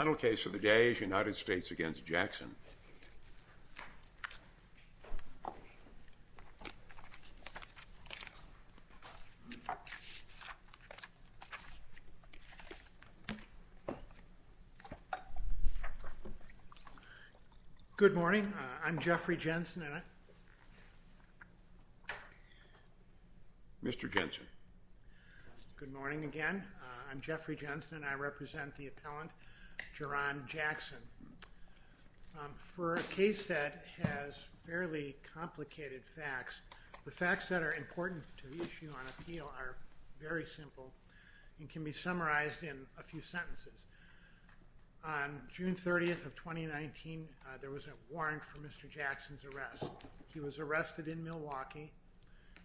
Final case of the day is United States v. Jackson. Good morning. I'm Jeffrey Jensen. Mr. Jensen. Good morning again. I'm Jeffrey Jensen. I represent the appellant Jaron Jackson. For a case that has fairly complicated facts, the facts that are important to the issue on appeal are very simple and can be summarized in a few sentences. On June 30th of 2019, there was a warrant for Mr. Jackson's arrest. He was arrested in Milwaukee.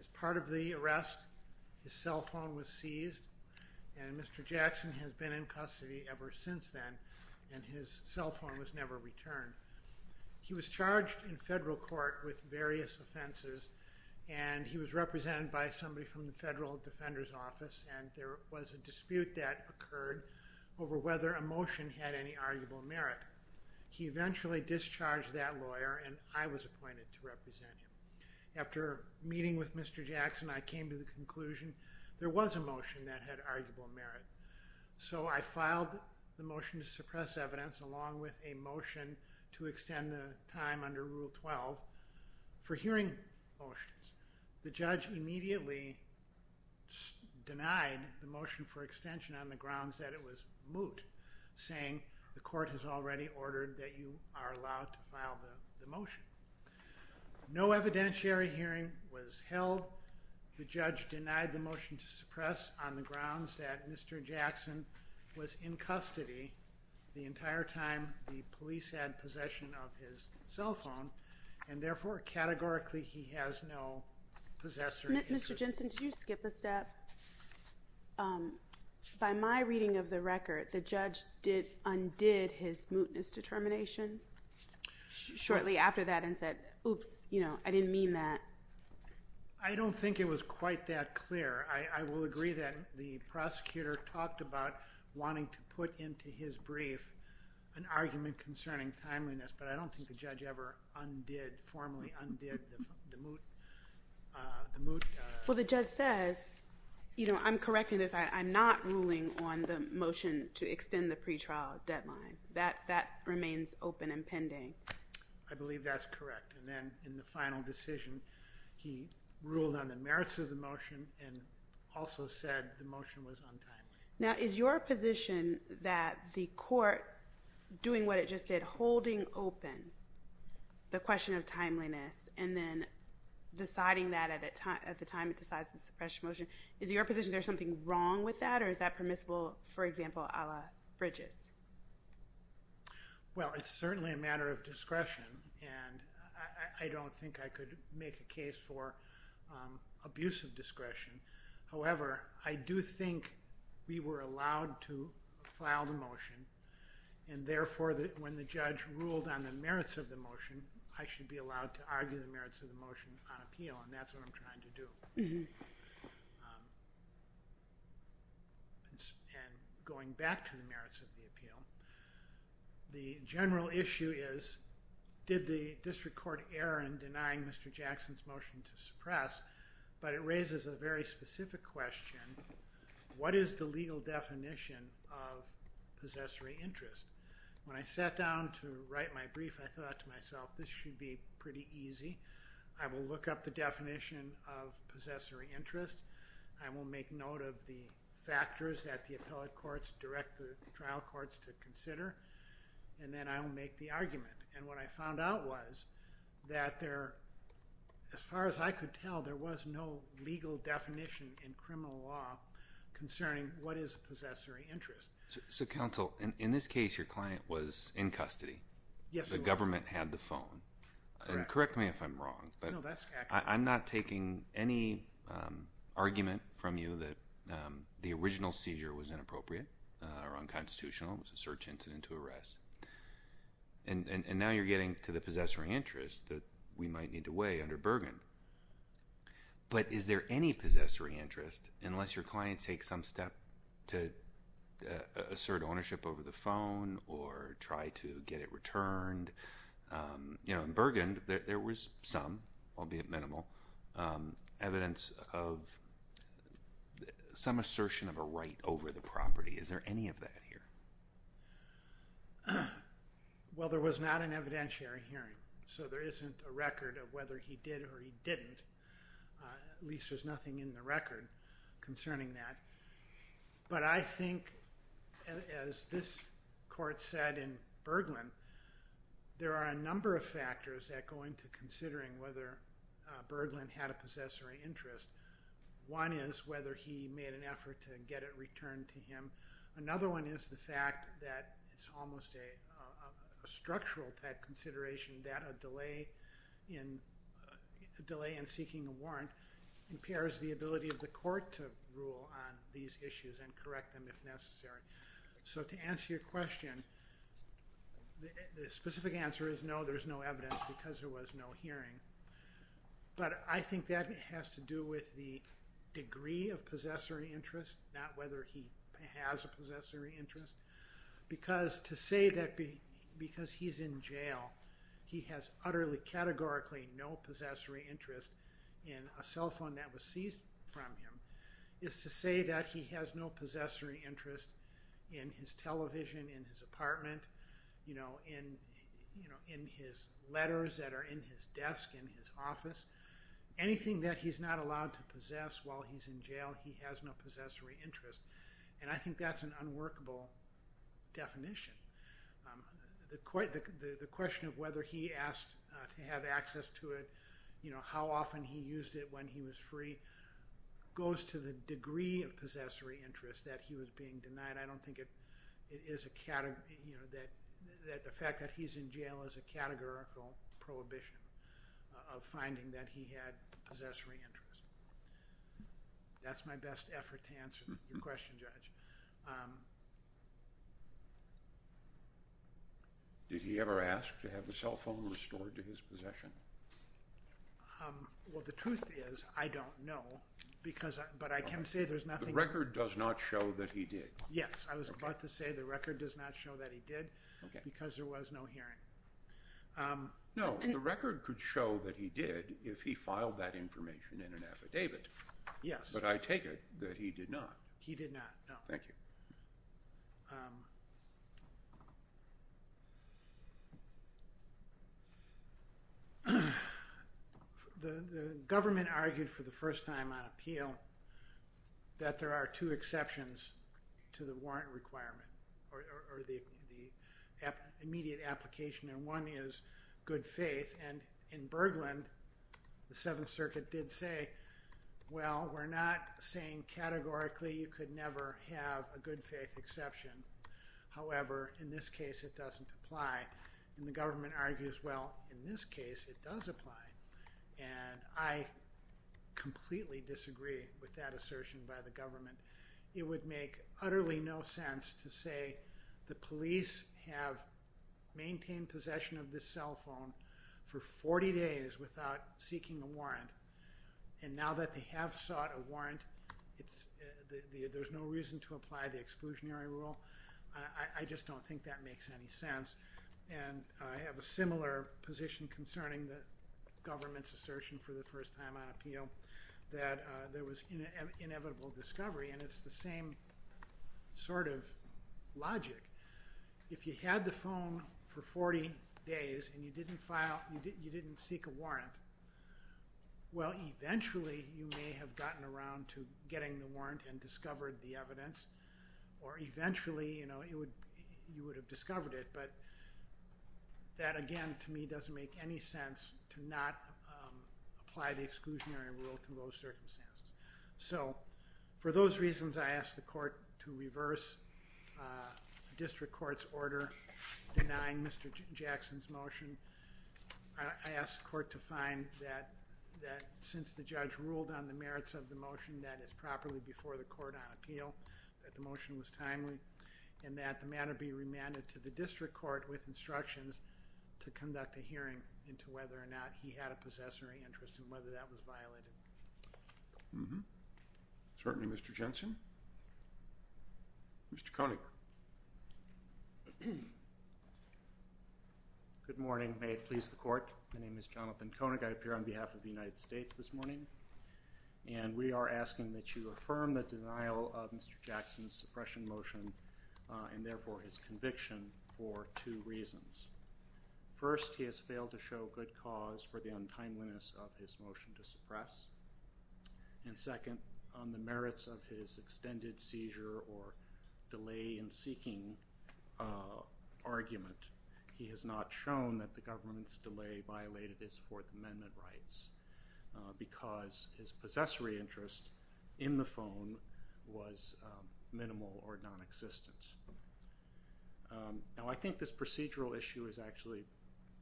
As part of the arrest, his cell phone was seized, and Mr. Jackson has been in custody ever since then, and his cell phone was never returned. He was charged in federal court with various offenses, and he was represented by somebody from the federal defender's office, and there was a dispute that occurred over whether a motion had any arguable merit. He eventually discharged that lawyer, and I was appointed to represent him. After meeting with Mr. Jackson, I came to the conclusion there was a motion that had arguable merit, so I filed the motion to suppress evidence along with a motion to extend the time under Rule 12 for hearing motions. The judge immediately denied the motion for extension on the grounds that it was moot, saying the court has already ordered that you are allowed to file the motion. No evidentiary hearing was held. The judge denied the motion to suppress on the grounds that Mr. Jackson was in custody the entire time the police had possession of his cell phone, and therefore, categorically, he has no possessory interest. Mr. Jensen, did you skip a step? By my reading of the record, the judge undid his mootness determination shortly after that and said, oops, I didn't mean that. I don't think it was quite that clear. I will agree that the prosecutor talked about wanting to put into his brief an argument concerning timeliness, but I don't think the judge ever formally undid the moot. Well, the judge says, you know, I'm correcting this. I'm not ruling on the motion to extend the pretrial deadline. That remains open and pending. I believe that's correct, and then in the final decision, he ruled on the merits of the motion and also said the motion was untimely. Now, is your position that the court, doing what it just did, holding open the question of timeliness and then deciding that at the time it decides to suppress the motion, is your position there's something wrong with that, or is that permissible, for example, a la Bridges? Well, it's certainly a matter of discretion, and I don't think I could make a case for abusive discretion. However, I do think we were allowed to file the motion, and therefore, when the judge ruled on the merits of the motion, I should be allowed to argue the merits of the motion on appeal, and that's what I'm trying to do. And going back to the merits of the appeal, the general issue is did the district court err in denying Mr. Jackson's motion to suppress, but it raises a very specific question. What is the legal definition of possessory interest? When I sat down to write my brief, I thought to myself, this should be pretty easy. I will look up the definition of possessory interest. I will make note of the factors that the appellate courts direct the trial courts to consider, and then I will make the argument. And what I found out was that there, as far as I could tell, there was no legal definition in criminal law concerning what is possessory interest. So, counsel, in this case, your client was in custody. Yes, he was. The government had the phone. Correct. Correct me if I'm wrong. No, that's accurate. I'm not taking any argument from you that the original seizure was inappropriate or unconstitutional. It was a search incident to arrest. And now you're getting to the possessory interest that we might need to weigh under Bergen. But is there any possessory interest, unless your client takes some step to assert ownership over the phone or try to get it returned? You know, in Bergen, there was some, albeit minimal, evidence of some assertion of a right over the property. Is there any of that here? Well, there was not an evidentiary hearing, so there isn't a record of whether he did or he didn't. At least there's nothing in the record concerning that. But I think, as this court said in Berglund, there are a number of factors that go into considering whether Berglund had a possessory interest. One is whether he made an effort to get it returned to him. Another one is the fact that it's almost a structural type consideration that a delay in seeking a warrant impairs the ability of the court to rule on these issues and correct them if necessary. So to answer your question, the specific answer is no, there's no evidence because there was no hearing. But I think that has to do with the degree of possessory interest, not whether he has a possessory interest. Because to say that because he's in jail, he has utterly categorically no possessory interest in a cell phone that was seized from him, is to say that he has no possessory interest in his television, in his apartment, in his letters that are in his desk, in his office. Anything that he's not allowed to possess while he's in jail, he has no possessory interest. And I think that's an unworkable definition. The question of whether he asked to have access to it, you know, how often he used it when he was free, goes to the degree of possessory interest that he was being denied. I don't think it is a category, you know, that the fact that he's in jail is a categorical prohibition of finding that he had possessory interest. That's my best effort to answer your question, Judge. Did he ever ask to have the cell phone restored to his possession? Well, the truth is I don't know, but I can say there's nothing – The record does not show that he did. Yes, I was about to say the record does not show that he did because there was no hearing. No, the record could show that he did if he filed that information in an affidavit, but I take it that he did not. He did not, no. Thank you. The government argued for the first time on appeal that there are two exceptions to the warrant requirement or the immediate application, and one is good faith. And in Bergland, the Seventh Circuit did say, well, we're not saying categorically you could never have a good faith exception. However, in this case, it doesn't apply. And the government argues, well, in this case, it does apply. And I completely disagree with that assertion by the government. It would make utterly no sense to say the police have maintained possession of this cell phone for 40 days without seeking a warrant. And now that they have sought a warrant, there's no reason to apply the exclusionary rule. I just don't think that makes any sense. And I have a similar position concerning the government's assertion for the first time on appeal that there was inevitable discovery, and it's the same sort of logic. If you had the phone for 40 days and you didn't seek a warrant, well, eventually, you may have gotten around to getting the warrant and discovered the evidence. Or eventually, you would have discovered it. But that, again, to me, doesn't make any sense to not apply the exclusionary rule to those circumstances. So for those reasons, I ask the court to reverse district court's order denying Mr. Jackson's motion. I ask the court to find that since the judge ruled on the merits of the motion, that it's properly before the court on appeal, that the motion was timely, and that the matter be remanded to the district court with instructions to conduct a hearing into whether or not he had a possessory interest and whether that was violated. Mm-hmm. Certainly, Mr. Jensen. Mr. Koenig. Good morning. May it please the court. My name is Jonathan Koenig. I appear on behalf of the United States this morning. And we are asking that you affirm the denial of Mr. Jackson's suppression motion and, therefore, his conviction for two reasons. First, he has failed to show good cause for the untimeliness of his motion to suppress. And second, on the merits of his extended seizure or delay in seeking argument, he has not shown that the government's delay violated his Fourth Amendment rights because his possessory interest in the phone was minimal or nonexistent. Now, I think this procedural issue is actually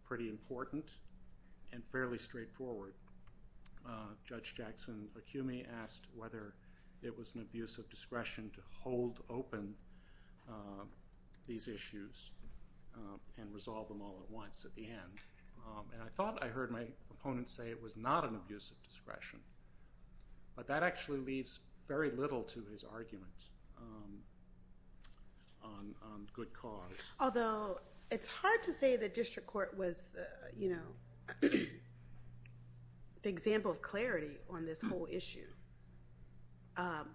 pretty important and fairly straightforward. Judge Jackson Acumi asked whether it was an abuse of discretion to hold open these issues and resolve them all at once at the end. And I thought I heard my opponent say it was not an abuse of discretion. But that actually leaves very little to his argument. So, I'm going to ask you to affirm the denial of Mr. Jackson's suppression motion and, therefore, his conviction for two reasons. Although, it's hard to say the district court was, you know, the example of clarity on this whole issue.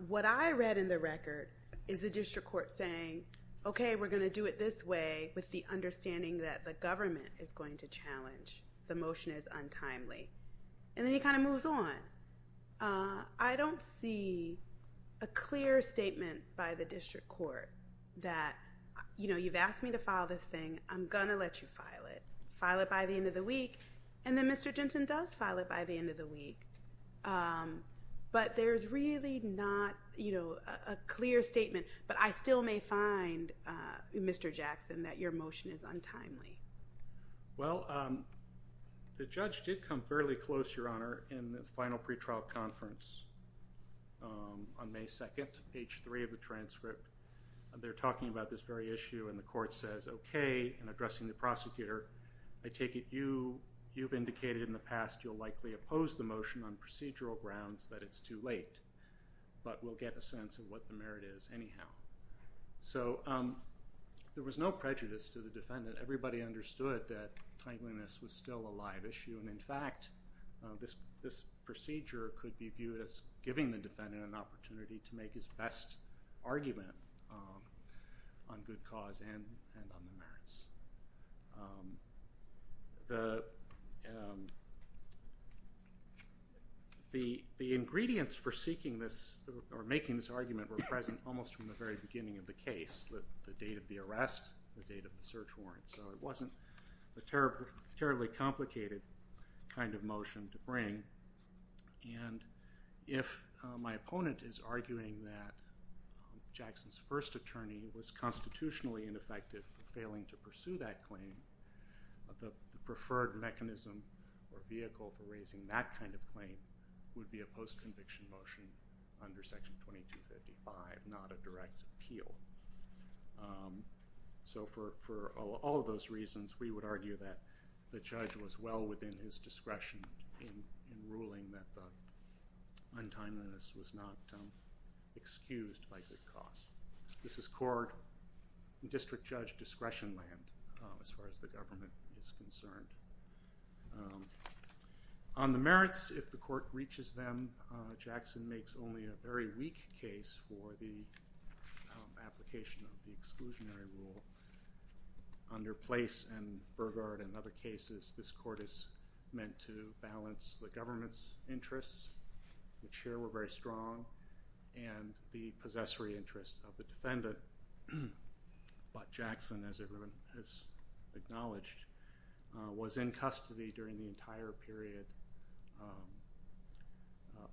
What I read in the record is the district court saying, okay, we're going to do it this way with the understanding that the government is going to challenge. The motion is untimely. And then he kind of moves on. I don't see a clear statement by the district court that, you know, you've asked me to file this thing. I'm going to let you file it. File it by the end of the week. And then Mr. Jensen does file it by the end of the week. But there's really not, you know, a clear statement. But I still may find, Mr. Jackson, that your motion is untimely. Well, the judge did come fairly close, Your Honor, in the final pretrial conference on May 2nd, page 3 of the transcript. They're talking about this very issue. And the court says, okay, in addressing the prosecutor, I take it you've indicated in the past you'll likely oppose the motion. And on procedural grounds, that it's too late. But we'll get a sense of what the merit is anyhow. So there was no prejudice to the defendant. Everybody understood that tangling this was still a live issue. And, in fact, this procedure could be viewed as giving the defendant an opportunity to make his best argument on good cause and on the merits. The ingredients for seeking this or making this argument were present almost from the very beginning of the case. The date of the arrest, the date of the search warrant. So it wasn't a terribly complicated kind of motion to bring. And if my opponent is arguing that Jackson's first attorney was constitutionally ineffective for failing to pursue that claim, the preferred mechanism or vehicle for raising that kind of claim would be a post-conviction motion under Section 2255, not a direct appeal. So for all of those reasons, we would argue that the judge was well within his discretion in ruling that the untimeliness was not excused by good cause. This is court and district judge discretion land as far as the government is concerned. On the merits, if the court reaches them, Jackson makes only a very weak case for the application of the exclusionary rule. Under Place and Burgard and other cases, this court is meant to balance the government's interests, which here were very strong, and the possessory interest of the defendant. But Jackson, as everyone has acknowledged, was in custody during the entire period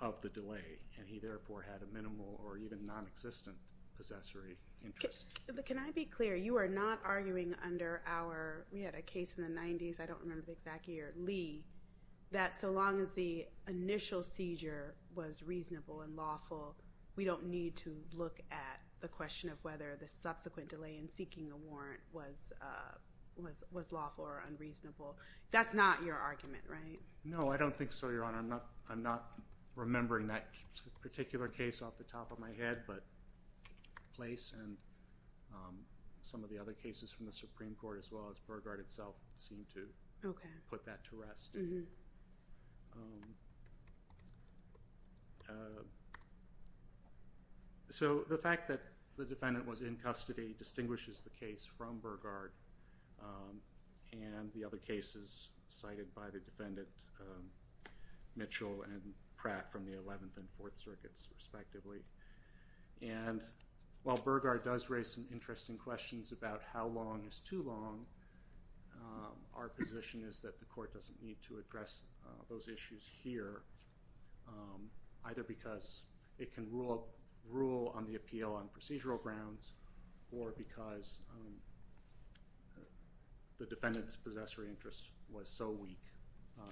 of the delay, and he therefore had a minimal or even nonexistent possessory interest. But can I be clear, you are not arguing under our, we had a case in the 90s, I don't remember the exact year, Lee, that so long as the initial seizure was reasonable and lawful, we don't need to look at the question of whether the subsequent delay in seeking a warrant was lawful or unreasonable. That's not your argument, right? No, I don't think so, Your Honor. I'm not remembering that particular case off the top of my head, but Place and some of the other cases from the Supreme Court as well as Burgard itself seem to put that to rest. So the fact that the defendant was in custody distinguishes the case from Burgard and the other cases cited by the defendant, Mitchell and Pratt, from the 11th and 4th Circuits, respectively. And while Burgard does raise some interesting questions about how long is too long, our position is that the court doesn't need to address those issues here, either because it can rule on the appeal on procedural grounds or because the defendant's possessory interest was so weak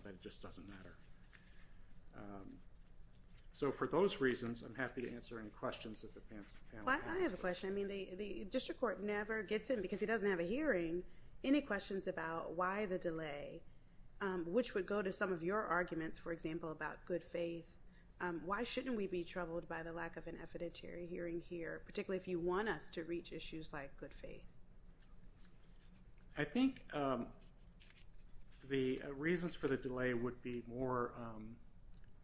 that it just doesn't matter. So for those reasons, I'm happy to answer any questions that the panel has. I have a question. I mean, the district court never gets in, because he doesn't have a hearing, any questions about why the delay, which would go to some of your arguments, for example, about good faith. Why shouldn't we be troubled by the lack of an evidentiary hearing here, particularly if you want us to reach issues like good faith? I think the reasons for the delay would be more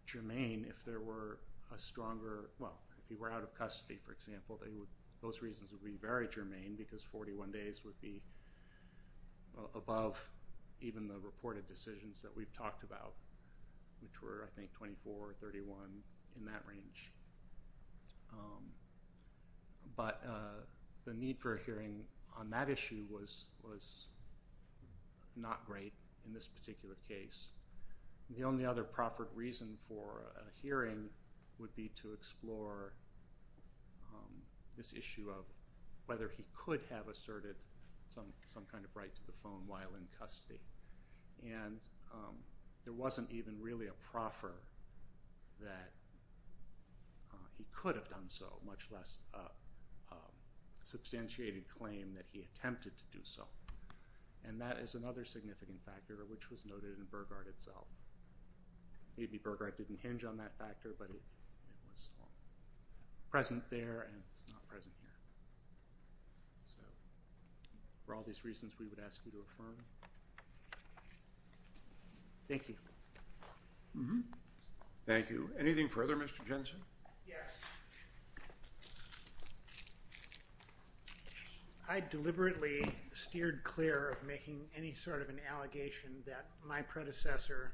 germane if there were a stronger, well, if you were out of custody, for example, those reasons would be very germane, because 41 days would be above even the reported decisions that we've talked about, which were, I think, 24, 31, in that range. But the need for a hearing on that issue was not great in this particular case. The only other proffered reason for a hearing would be to explore this issue of whether he could have asserted some kind of right to the phone while in custody. And there wasn't even really a proffer that he could have done so, much less a substantiated claim that he attempted to do so. And that is another significant factor, which was noted in Burggard itself. Maybe Burggard didn't hinge on that factor, but it was present there and it's not present here. So for all these reasons, we would ask you to affirm. Thank you. Thank you. Anything further, Mr. Jensen? Yes. I deliberately steered clear of making any sort of an allegation that my predecessor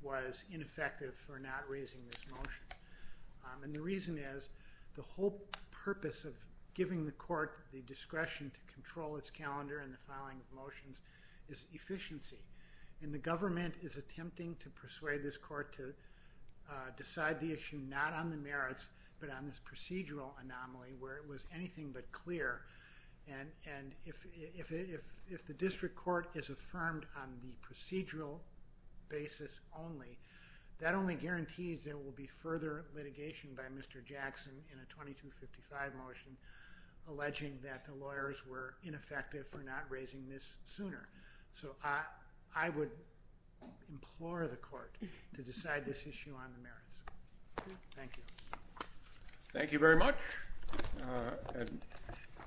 was ineffective for not raising this motion. And the reason is the whole purpose of giving the court the discretion to control its calendar and the filing of motions is efficiency. And the government is attempting to persuade this court to decide the issue not on the merits, but on this procedural anomaly where it was anything but clear. And if the district court is affirmed on the procedural basis only, that only guarantees there will be further litigation by Mr. Jackson in a 2255 motion, alleging that the lawyers were ineffective for not raising this sooner. So I would implore the court to decide this issue on the merits. Thank you. Thank you very much.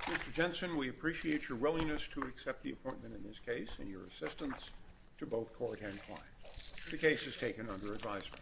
Mr. Jensen, we appreciate your willingness to accept the appointment in this case and your assistance to both court and client. The case is taken under advisement.